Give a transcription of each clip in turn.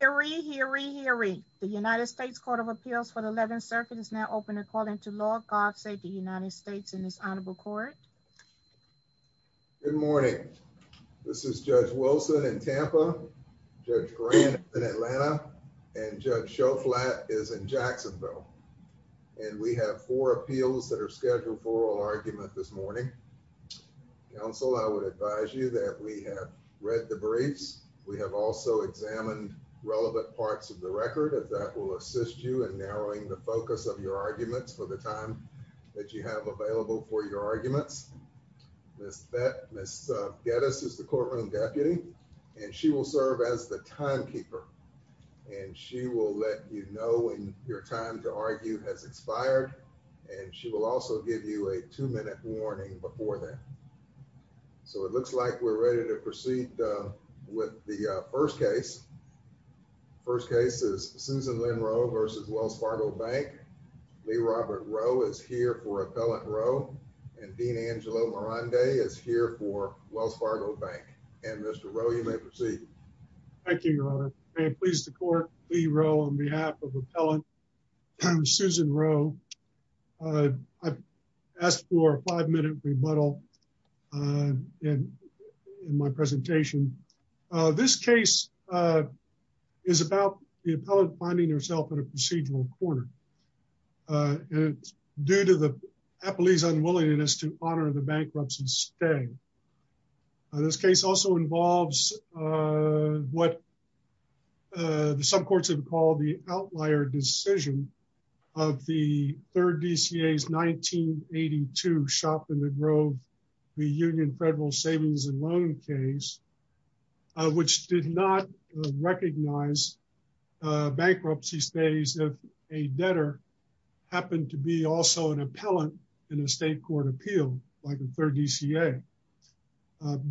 Hear ye, hear ye, hear ye. The United States Court of Appeals for the 11th Circuit is now open and calling to law. God save the United States in this honorable court. Good morning. This is Judge Wilson in Tampa, Judge Grant in Atlanta, and Judge Schoflat is in Jacksonville. And we have four appeals that are scheduled for oral argument this morning. Counsel, I would advise you that we have read the briefs. We have also examined relevant parts of the record. That will assist you in narrowing the focus of your arguments for the time that you have available for your arguments. Ms. Geddes is the courtroom deputy, and she will serve as the timekeeper. And she will let you know when your time to argue has expired. And she will also give you a two-minute warning before that. So it looks like we're ready to proceed with the first case. First case is Susan Lynn Rohe v. Wells Fargo Bank. Lee Robert Rohe is here for Appellant Rohe, and Dean Angelo Marande is here for Wells Fargo Bank. And Mr. Rohe, you may proceed. Thank you, Your Honor. May it please the court. Lee Rohe on behalf of Appellant Susan Rohe. I've asked for a five-minute rebuttal in my presentation. This case is about the appellant finding herself in a procedural corner. It's due to the appellee's unwillingness to honor the bankruptcy stay. This case also involves what some courts have called the outlier decision of the third DCA's 1982 shop in the grove reunion federal savings and loan case, which did not recognize bankruptcy stays if a debtor happened to be also an appellant in a state court appeal by the third DCA.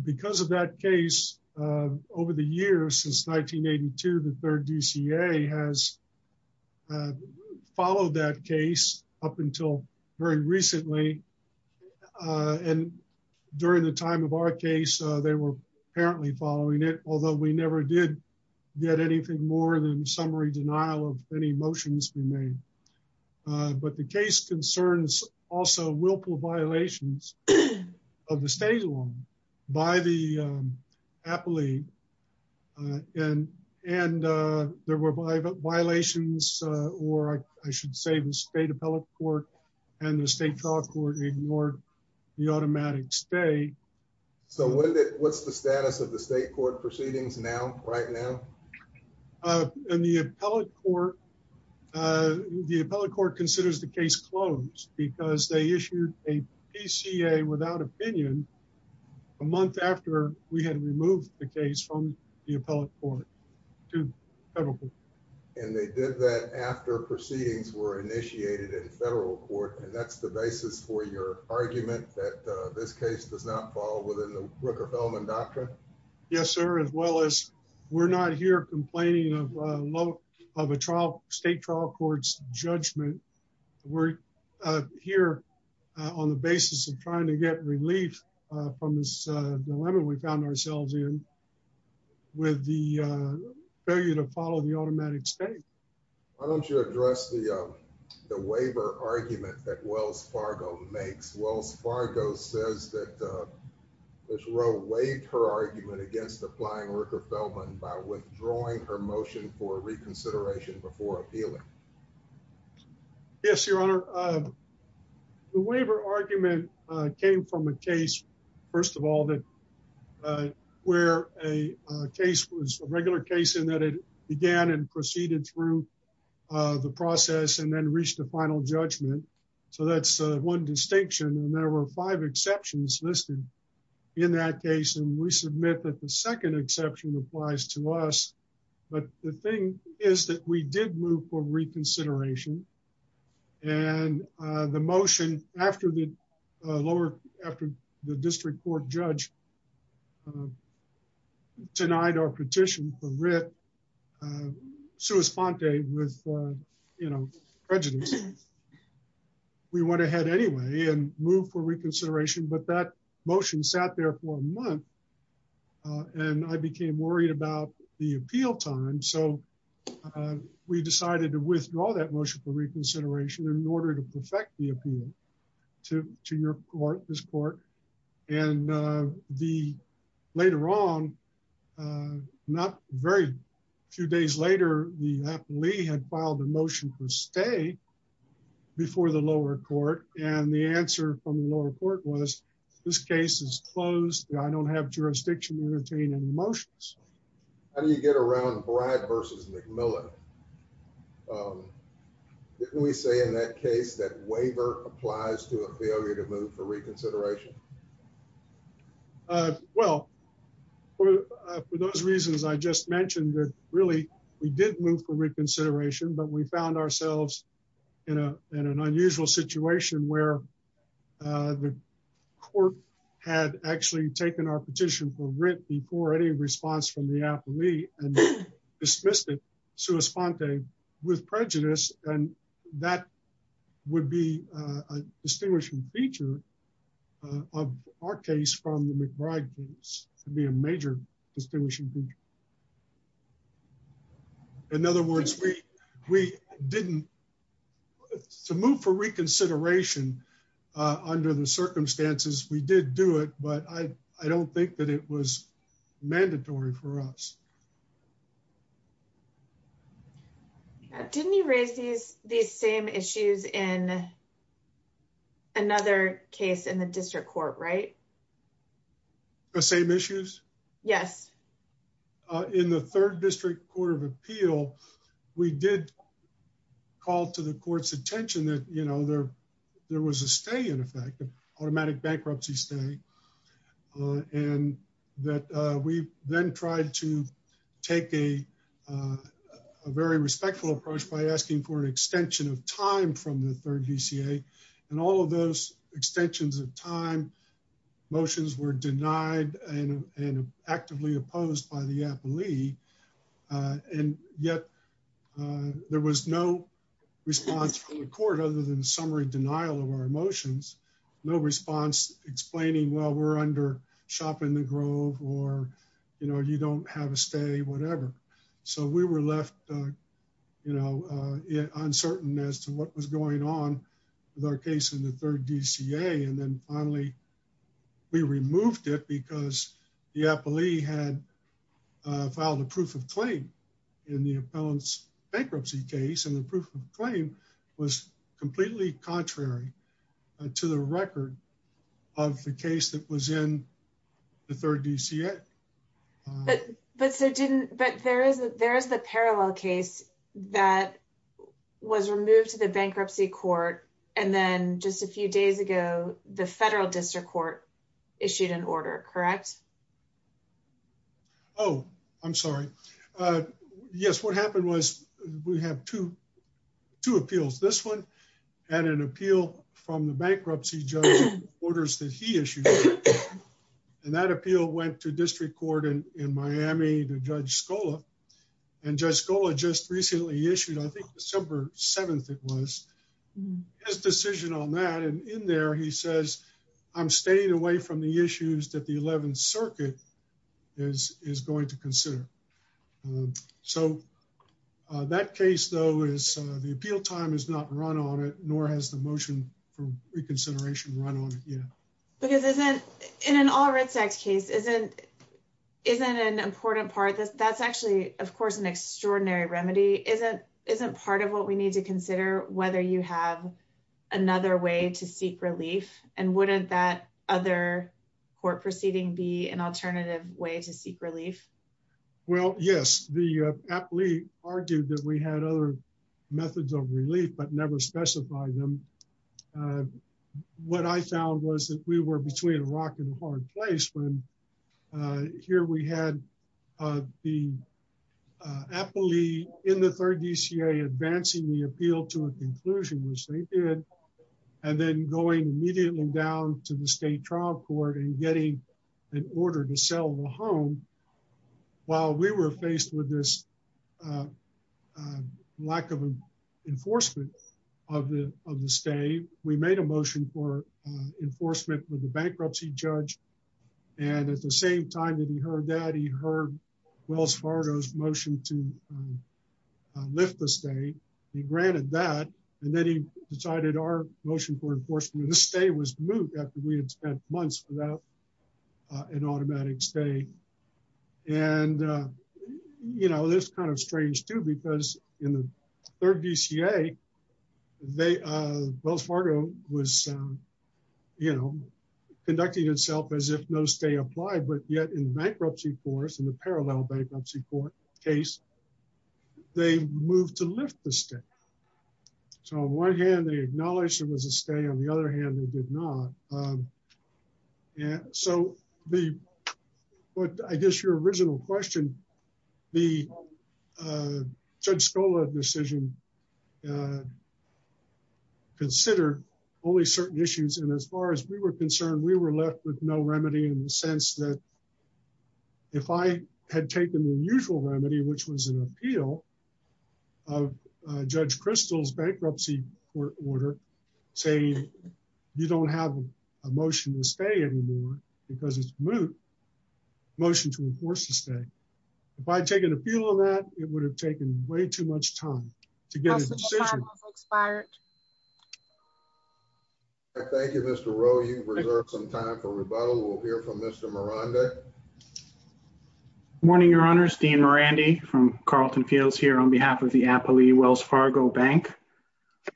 Because of that case, over the years since 1982, the third DCA has followed that case up until very recently. And during the time of our case, they were apparently following it, although we never did get anything more than summary denial of any motions we made. But the case concerns also violations of the state law by the appellee. And there were violations, or I should say the state appellate court and the state trial court ignored the automatic stay. So what's the status of the state court proceedings now, right now? In the appellate court, the appellate court considers the case closed because they issued a PCA without opinion a month after we had removed the case from the appellate court to the federal court. And they did that after proceedings were initiated in federal court. And that's the basis for your argument that this case does not fall within the Rooker-Fellman doctrine? Yes, sir. As well as we're not here complaining of a state trial court's judgment, we're here on the basis of trying to get relief from this dilemma we found ourselves in with the failure to follow the automatic stay. Why don't you address the waiver argument that Wells Fargo makes? Wells Fargo says that Ms. Rowe waived her argument against applying Rooker-Fellman by withdrawing her motion for reconsideration before appealing. Yes, your honor. The waiver argument came from a case, first of all, where a case was a regular case in that it began and proceeded through the process and then reached a final judgment. So that's one distinction. And there were five exceptions listed in that case. And we submit that the second exception applies to us. But the thing is that we did move for reconsideration. And the motion after the lower, after the district court judge denied our petition for writ, sua sponte, with, you know, prejudice, we went ahead anyway and moved for reconsideration. But that motion sat there for a month. And I became worried about the appeal time. So we decided to withdraw that motion for reconsideration in order to perfect the appeal to your court, this court. And the later on, not very few days later, we had filed a motion for stay before the lower court. And the answer from the lower court was, this case is closed. I don't have jurisdiction to entertain any motions. How do you get around Brad versus McMillan? Didn't we say in that case that waiver applies to a failure to move for reconsideration? Well, for those reasons, I just mentioned that really, we did move for reconsideration, but we found ourselves in a in an unusual situation where the court had actually taken our petition for writ before any response from the appellee and dismissed it sua sponte with prejudice. And that would be a distinguishing feature of our case from the McBride case to be a major distinguishing feature. In other words, we didn't. To move for reconsideration under the circumstances, we did do it, but I don't think that it was mandatory for us. Didn't you raise these same issues in another case in the district court, right? The same issues? Yes. In the third district court of appeal, we did call to the court's attention that, you know, there was a stay in effect, automatic bankruptcy stay, and that we then tried to take a very respectful approach by asking for an extension of time from the third DCA. And all of those extensions of time motions were denied and actively opposed by the appellee. And yet, there was no response from the court other than summary denial of our motions. No response explaining, well, we're under shop in the grove or, you know, you don't have a whatever. So, we were left, you know, uncertain as to what was going on with our case in the third DCA. And then finally, we removed it because the appellee had filed a proof of claim in the appellant's bankruptcy case. And the proof of claim was completely contrary to the record of the case that was in the third DCA. But there is the parallel case that was removed to the bankruptcy court, and then just a few days ago, the federal district court issued an order, correct? Oh, I'm sorry. Yes, what happened was we have two appeals. This one had an appeal from the bankruptcy judge orders that he issued. And that appeal went to district court in Miami to Judge Scola. And Judge Scola just recently issued, I think December 7th it was, his decision on that. And in there, he says, I'm staying away from the issues that the 11th Circuit is going to consider. So, that case though is, the appeal time is not run on it, nor has the motion for reconsideration run on it yet. Because isn't, in an all writ sex case, isn't an important part, that's actually, of course, an extraordinary remedy, isn't part of what we need to consider, whether you have another way to seek relief, and wouldn't that other court proceeding be an alternative way to seek relief? Well, yes, the appellee argued that we had other methods of relief, but never specified them. What I found was that we were between a rock and a hard place when here we had the appellee in the third DCA advancing the appeal to a conclusion, which they did, and then going immediately down to the state trial court and getting an order to sell the home. While we were faced with this lack of enforcement of the stay, we made a motion for enforcement with the bankruptcy judge. And at the same time that he heard that he heard Wells Fargo's motion to granted that, and then he decided our motion for enforcement of the stay was moved after we had spent months without an automatic stay. And, you know, this kind of strange too, because in the third DCA, Wells Fargo was, you know, conducting itself as if no stay applied, but yet bankruptcy force and the parallel bankruptcy court case, they moved to lift the stay. So on one hand, they acknowledged it was a stay, on the other hand, they did not. Yeah, so the, what I guess your original question, the Judge Scola decision considered only certain issues, and as far as we were concerned, we were left with no remedy in the if I had taken the usual remedy, which was an appeal of Judge Crystal's bankruptcy court order, saying, you don't have a motion to stay anymore, because it's moved motion to enforce the stay. If I'd taken a feel of that, it would have taken way too much time to get expired. Thank you, Mr. Rowe, you reserve some time for rebuttal. We'll hear from Mr. Maranda. Good morning, Your Honors, Dean Mirandi from Carleton Fields here on behalf of the Appley-Wells Fargo Bank.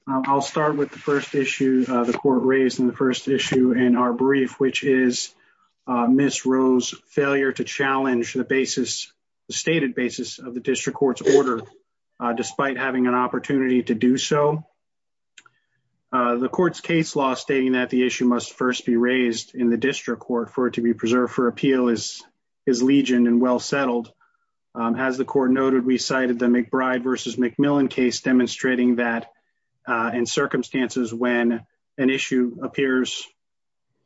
I'll start with the first issue the court raised in the first issue in our brief, which is Ms. Rowe's failure to challenge the basis, the stated basis of the district court's order, despite having an opportunity to do so. The court's case law stating that the issue must first be raised in the district court for it to be preserved for appeal is legion and well settled. As the court noted, we cited the McBride versus McMillan case demonstrating that in circumstances when an issue appears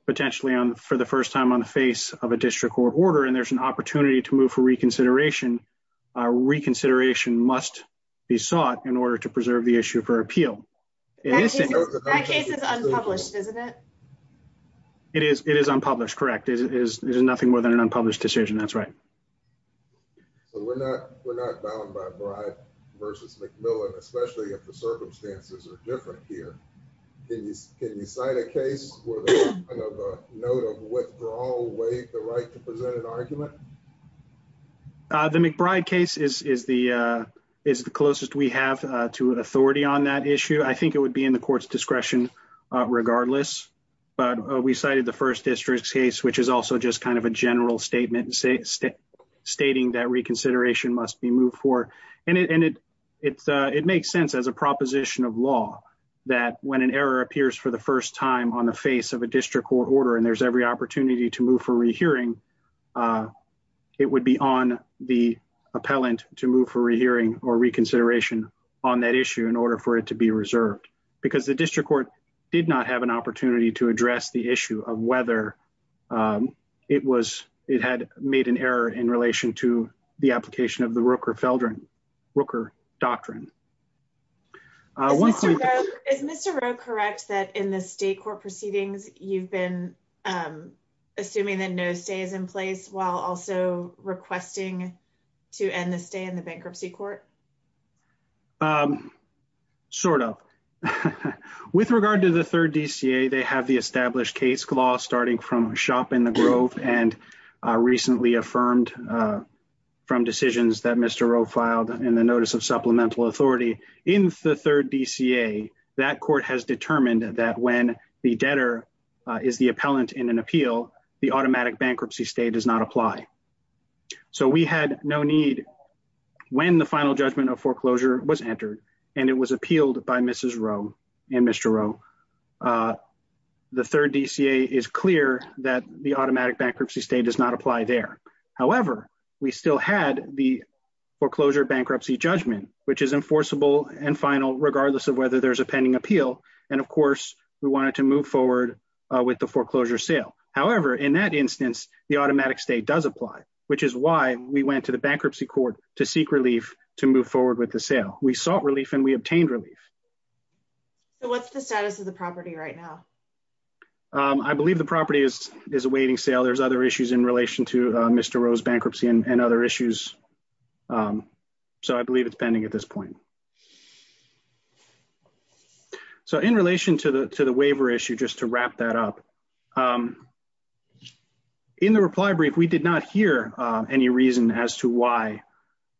potentially for the first time on the face of a district court order, and there's an opportunity to move for reconsideration, reconsideration must be sought in order to preserve the issue for appeal. That case is unpublished, isn't it? It is unpublished, correct. It is nothing more than an unpublished decision, that's right. So we're not bound by Bride versus McMillan, especially if the circumstances are different here. Can you cite a case where there's a note of withdrawal waived the right to present an argument? The McBride case is the closest we have to authority on that issue. I think it would be in the court's discretion regardless, but we cited the first district's case, which is also just kind of a general statement stating that reconsideration must be moved for. And it makes sense as a proposition of law that when an error appears for the first time on the face of a district court order, and there's every opportunity to move for rehearing, it would be on the appellant to move for rehearing or reconsideration on that issue in order for it to be reserved. Because the district court did not have an opportunity to address the issue of whether it had made an error in relation to the application of the Rooker doctrine. Is Mr. Rowe correct that in the state court proceedings you've been assuming that no is in place while also requesting to end the stay in the bankruptcy court? Sort of. With regard to the third DCA, they have the established case law starting from shop in the grove and recently affirmed from decisions that Mr. Rowe filed in the notice of supplemental authority. In the third DCA, that court has determined that when the debtor is the appellant in an appeal, the automatic bankruptcy stay does not apply. So we had no need when the final judgment of foreclosure was entered and it was appealed by Mrs. Rowe and Mr. Rowe. The third DCA is clear that the automatic bankruptcy stay does not apply there. However, we still had the foreclosure bankruptcy judgment, which is enforceable and final regardless of whether there's a pending appeal. And of course, we wanted to move forward with the foreclosure sale. However, in that instance, the automatic stay does apply, which is why we went to the bankruptcy court to seek relief to move forward with the sale. We sought relief and we obtained relief. So what's the status of the property right now? I believe the property is awaiting sale. There's other issues in relation to Mr. Rowe's bankruptcy and other issues. So I believe it's pending at this point. So in relation to the waiver issue, just to wrap that up, in the reply brief, we did not hear any reason as to why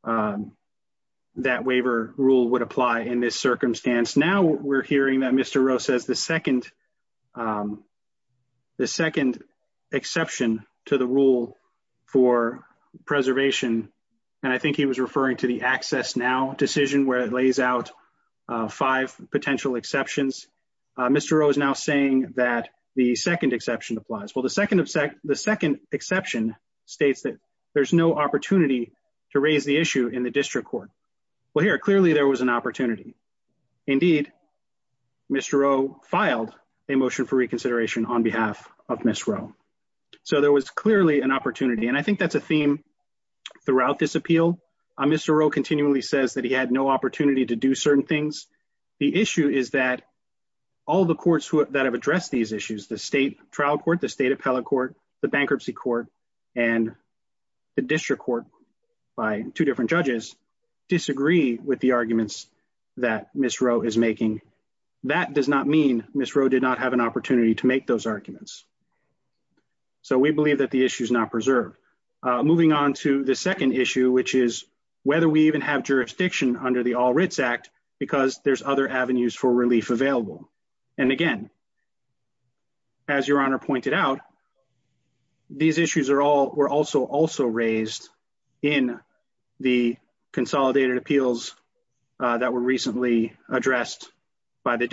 that waiver rule would apply in this circumstance. Now we're hearing that Mr. Rowe says the second exception to the rule for preservation. And I think he was referring to the access now decision where it lays out five potential exceptions. Mr. Rowe is now saying that the second exception applies. Well, the second exception states that there's no opportunity to raise the issue in the district court. Well, here, clearly there was an opportunity. Indeed, Mr. Rowe filed a motion for reconsideration on behalf of Ms. Rowe. So there was clearly an opportunity. And I think that's a certain things. The issue is that all the courts that have addressed these issues, the state trial court, the state appellate court, the bankruptcy court, and the district court by two different judges disagree with the arguments that Ms. Rowe is making. That does not mean Ms. Rowe did not have an opportunity to make those arguments. So we believe that the issue is not preserved. Moving on to the second issue, which is whether we even have jurisdiction under the All Writs Act because there's other avenues for relief available. And again, as Your Honor pointed out, these issues were also raised in the consolidated appeals that were recently addressed by the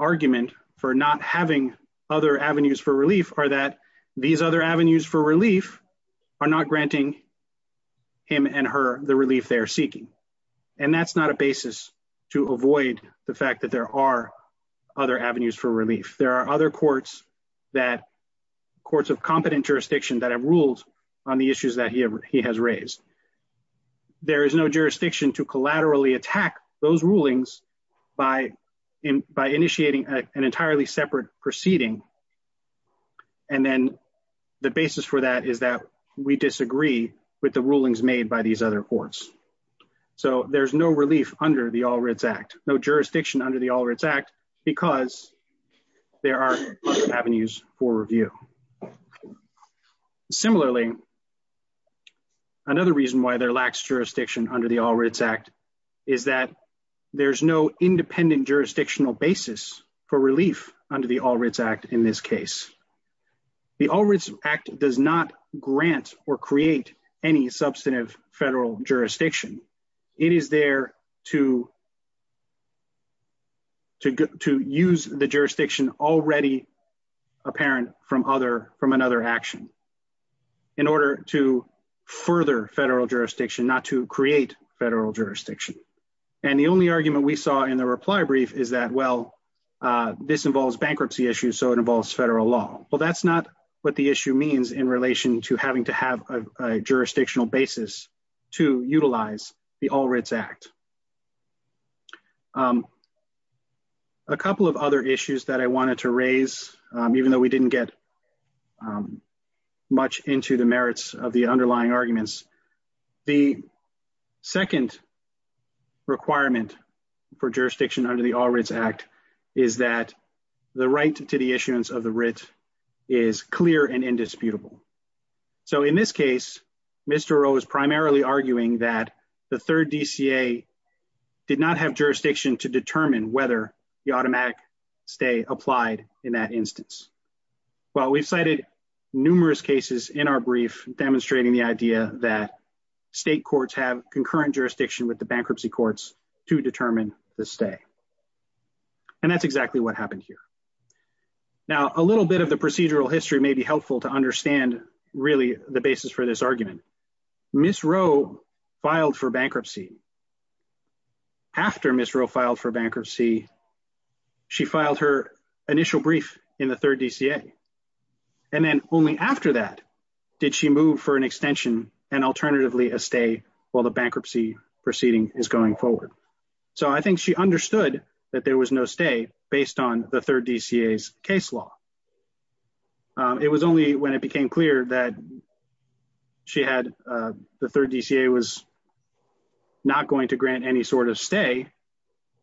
argument for not having other avenues for relief are that these other avenues for relief are not granting him and her the relief they're seeking. And that's not a basis to avoid the fact that there are other avenues for relief. There are other courts of competent jurisdiction that have ruled on the issues that he has raised. There is no jurisdiction to collaterally attack those rulings by initiating an entirely separate proceeding. And then the basis for that is that we disagree with the rulings made by these other courts. So there's no relief under the All Writs Act, no jurisdiction under the All Writs Act because there are other avenues for review. Similarly, another reason why there lacks jurisdiction under the All Writs Act is that there's no independent jurisdictional basis for relief under the All Writs Act in this case. The All Writs Act does not grant or create any substantive federal jurisdiction. It is there to use the jurisdiction already apparent from another action in order to further federal jurisdiction, not to create federal jurisdiction. And the only argument we saw in the reply brief is that, well, this involves bankruptcy issues, so it involves federal law. Well, that's not what the issue means in relation to having to have a jurisdictional basis to utilize the All Writs Act. A couple of other issues that I wanted to raise, even though we didn't get much into the merits of the underlying arguments, the second requirement for jurisdiction under the All Writs Act is that the right to the issuance of the writ is clear and indisputable. So in this case, Mr. O is primarily arguing that the third DCA did not have jurisdiction to determine whether the automatic stay applied in that instance. Well, we've cited numerous cases in our brief demonstrating the idea that state courts have concurrent jurisdiction with the bankruptcy courts to determine the stay. And that's exactly what happened here. Now, a little bit of the procedural history may be helpful to understand really the basis for this argument. Ms. Rowe filed for bankruptcy. After Ms. Rowe filed for bankruptcy, she filed her initial brief in the third DCA. And then only after that did she move for an extension and alternatively a stay while the bankruptcy proceeding is going forward. So I think she understood that there was no stay based on the third DCA's case law. It was only when it became clear that the third DCA was not going to grant any sort of stay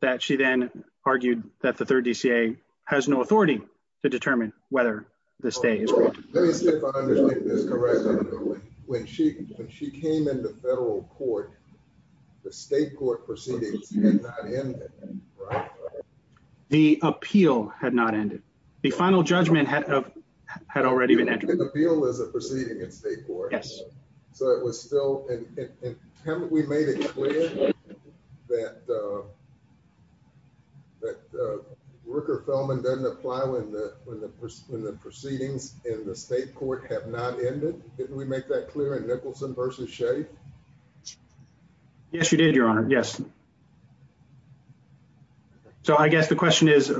that she then argued that the third DCA has no authority to determine whether the stay is granted. Let me see if I understand this correctly. When she came into federal court, the state court proceedings had not ended, right? The appeal had not ended. The final judgment had already been entered. The appeal was a proceeding in state court. Yes. So it was still, and haven't we made it clear that Rooker-Felman doesn't apply when the proceedings in the state court have not ended? Didn't we make that clear in Nicholson versus Shea? Yes, you did, your honor. Yes. So I guess the question is,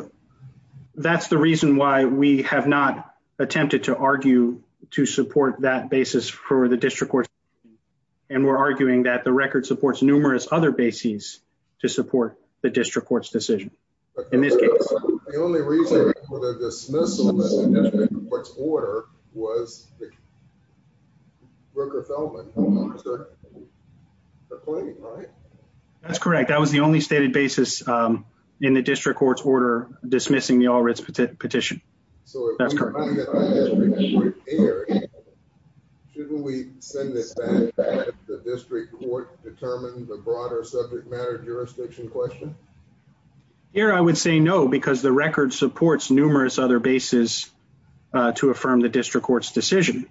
that's the reason why we have not attempted to argue to support that basis for the district court. And we're arguing that the record supports numerous other bases to support the district court's decision. In this case, the only reason for the dismissal of the district court's order was Rooker-Felman. That's correct. That was the only stated basis in the district court's order dismissing the All-Writs petition. So that's correct. Shouldn't we send this back to the district court to determine the broader subject matter jurisdiction question? Here, I would say no, because the record supports numerous other bases to affirm the district court's decision.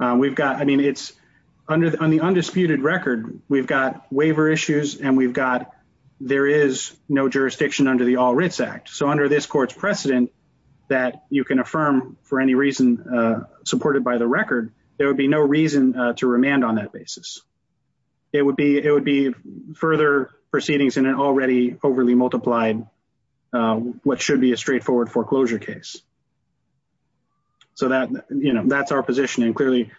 On the undisputed record, we've got waiver issues and we've got there is no jurisdiction under the All-Writs Act. So under this court's precedent that you can affirm for any reason supported by the record, there would be no reason to remand on that basis. It would be further proceedings in an already overly multiplied, what should be a discretionary case. So that's our position. And clearly,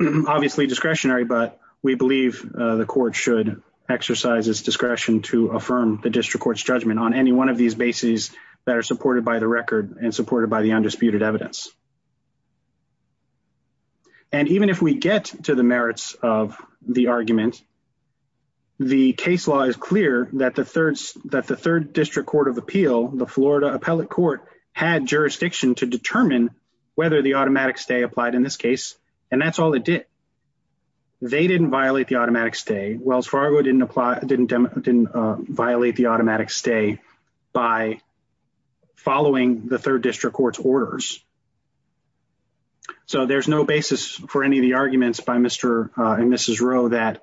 obviously discretionary, but we believe the court should exercise its discretion to affirm the district court's judgment on any one of these bases that are supported by the record and supported by the undisputed evidence. And even if we get to the merits of the argument, the case law is clear that the third district court of appeal, the Florida appellate court had jurisdiction to determine whether the automatic stay applied in this case. And that's all it did. They didn't violate the automatic stay. Wells Fargo didn't apply, didn't violate the automatic stay by following the third district court's orders. So there's no basis for any of the arguments by Mr. and Mrs. Rowe that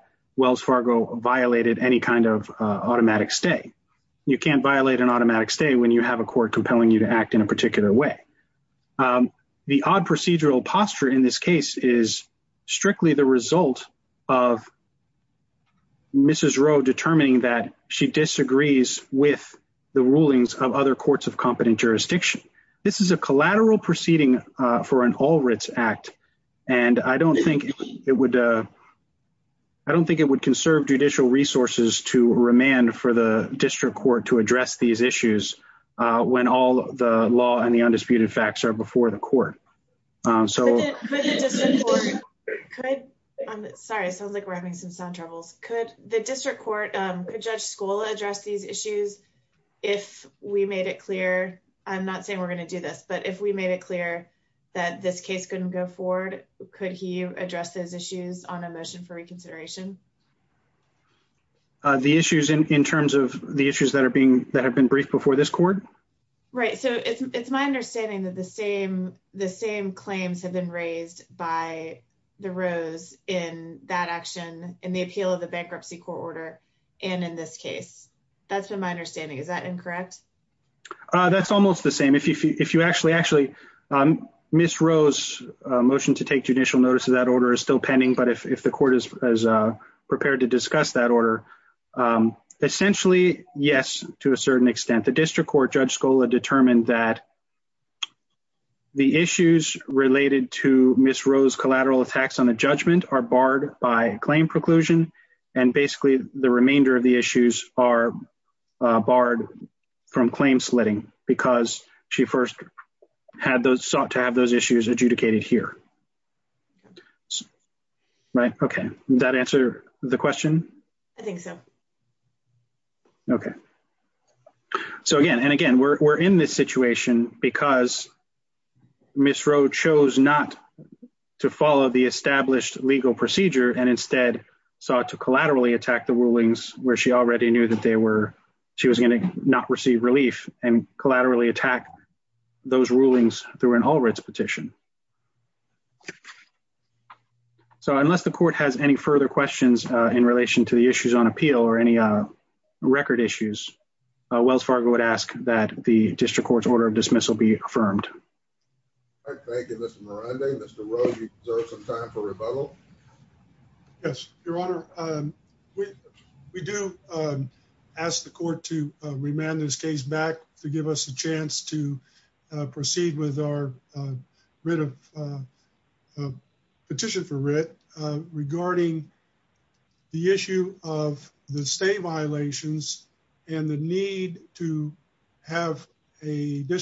you can't violate an automatic stay when you have a court compelling you to act in a particular way. The odd procedural posture in this case is strictly the result of Mrs. Rowe determining that she disagrees with the rulings of other courts of competent jurisdiction. This is a collateral proceeding for an all writs act. And I don't think it would conserve judicial resources to remand for the district court to address these issues when all the law and the undisputed facts are before the court. Sorry, it sounds like we're having some sound troubles. Could the district court, could Judge Scola address these issues if we made it clear, I'm not saying we're going to do this, but if we made it clear that this case couldn't go forward, could he address those issues on a reconsideration? The issues in terms of the issues that have been briefed before this court? Right, so it's my understanding that the same claims have been raised by the Rowe's in that action in the appeal of the bankruptcy court order and in this case. That's been my understanding. Is that incorrect? That's almost the same. If you actually, actually, Mrs. Rowe's motion to judicial notice of that order is still pending, but if the court is prepared to discuss that order, essentially, yes, to a certain extent. The district court, Judge Scola determined that the issues related to Mrs. Rowe's collateral attacks on the judgment are barred by claim preclusion and basically the remainder of the issues are barred from claim slitting because she first sought to have those issues adjudicated here. Right, okay, that answer the question? I think so. Okay, so again, and again, we're in this situation because Mrs. Rowe chose not to follow the established legal procedure and instead sought to collaterally attack the rulings where she already knew that she was going to not and collaterally attack those rulings through an Allred's petition. So, unless the court has any further questions in relation to the issues on appeal or any record issues, Wells Fargo would ask that the district court's order of dismissal be affirmed. All right, thank you, Mr. Miranda. Mr. Rowe, you deserve some time for rebuttal. Yes, Your Honor, we do ask the court to remand this case back to give us a chance to proceed with our writ of petition for writ regarding the issue of the state violations and the need to have a the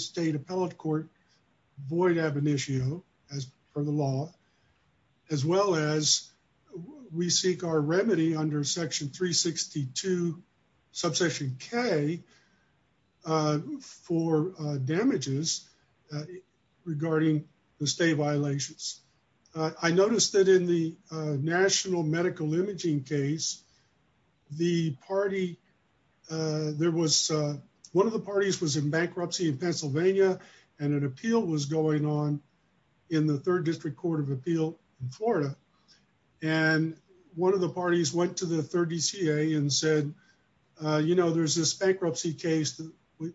state appellate court void ab initio as per the law as well as we seek our remedy under section 362 subsection k for damages regarding the state violations. I noticed that in the national medical and an appeal was going on in the third district court of appeal in Florida, and one of the parties went to the third DCA and said, you know, there's this bankruptcy case that we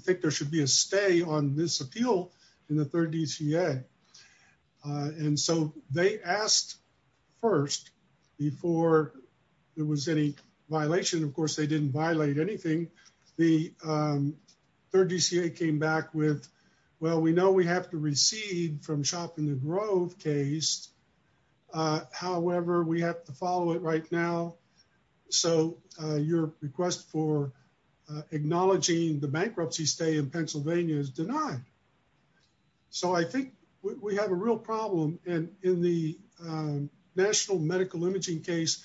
think there should be a stay on this appeal in the third DCA, and so they asked first before there was any violation. Of course, they didn't violate anything. The third DCA came back with, well, we know we have to recede from shop in the grove case. However, we have to follow it right now. So your request for acknowledging the bankruptcy stay in Pennsylvania is denied. So I think we have a real problem, and in the national medical imaging case,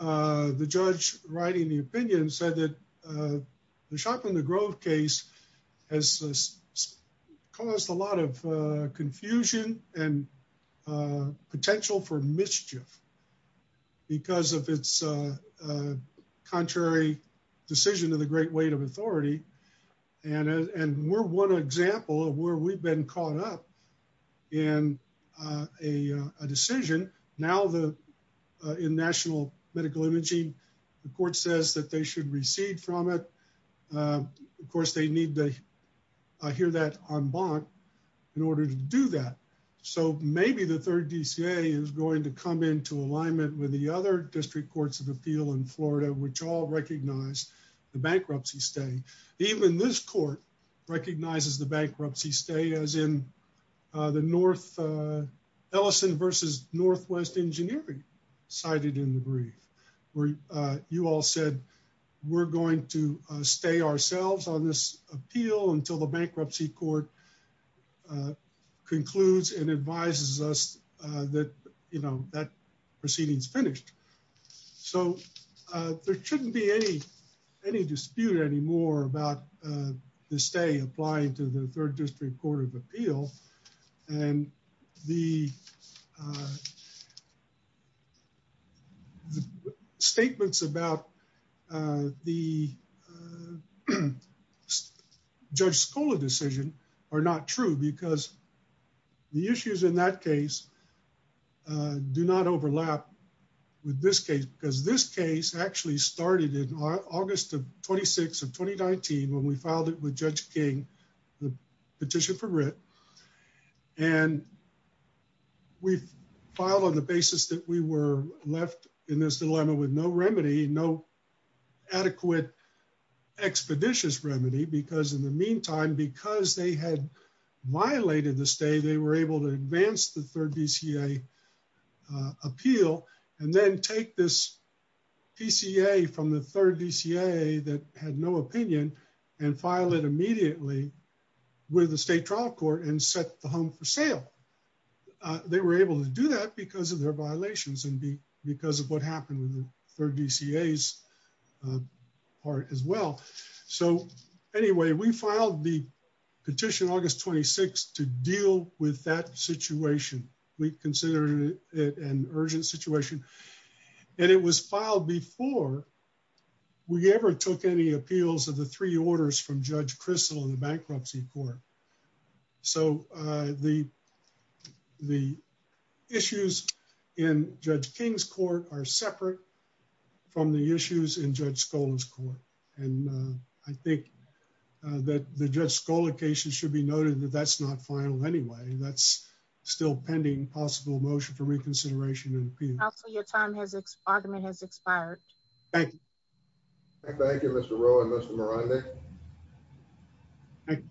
the judge writing the opinion said that the shop in the grove case has caused a lot of confusion and potential for mischief because of its contrary decision to the great weight of authority, and we're one example of where we've been caught up in a decision. Now in national medical imaging, the court says that they should recede from it. Of course, they need to hear that en banc in order to do that. So maybe the third DCA is going to come into alignment with the other district courts of appeal in Florida, which all recognize the bankruptcy stay. Even this court recognizes the bankruptcy stay as in the north Ellison versus Northwest engineering cited in the brief where you all said, we're going to stay ourselves on this appeal until the bankruptcy court concludes and advises us that, you know, that proceeding's finished. So there shouldn't be any dispute anymore about the stay applying to the third district court of appeal, and the statements about the Judge Scola decision are not true because the issues in that case do not overlap with this case because this case actually started in August of 26 of 2019 when we filed it with Judge King, the petition for writ, and we filed on the basis that we were left in this dilemma with no remedy, no adequate expeditious remedy, because in the meantime, because they had the third DCA appeal and then take this PCA from the third DCA that had no opinion and file it immediately with the state trial court and set the home for sale. They were able to do that because of their violations and because of what happened with the third DCA's part as well. So anyway, we August 26 to deal with that situation. We consider it an urgent situation, and it was filed before we ever took any appeals of the three orders from Judge Crystal in the bankruptcy court. So the issues in Judge King's court are separate from the issues in Judge Scola's court, and I think that the Judge Scola case should be noted that that's not final anyway. That's still pending possible motion for reconsideration and appeal. Counselor, your time has expired. Thank you. Thank you, Mr. Rowe and Mr. Morandi.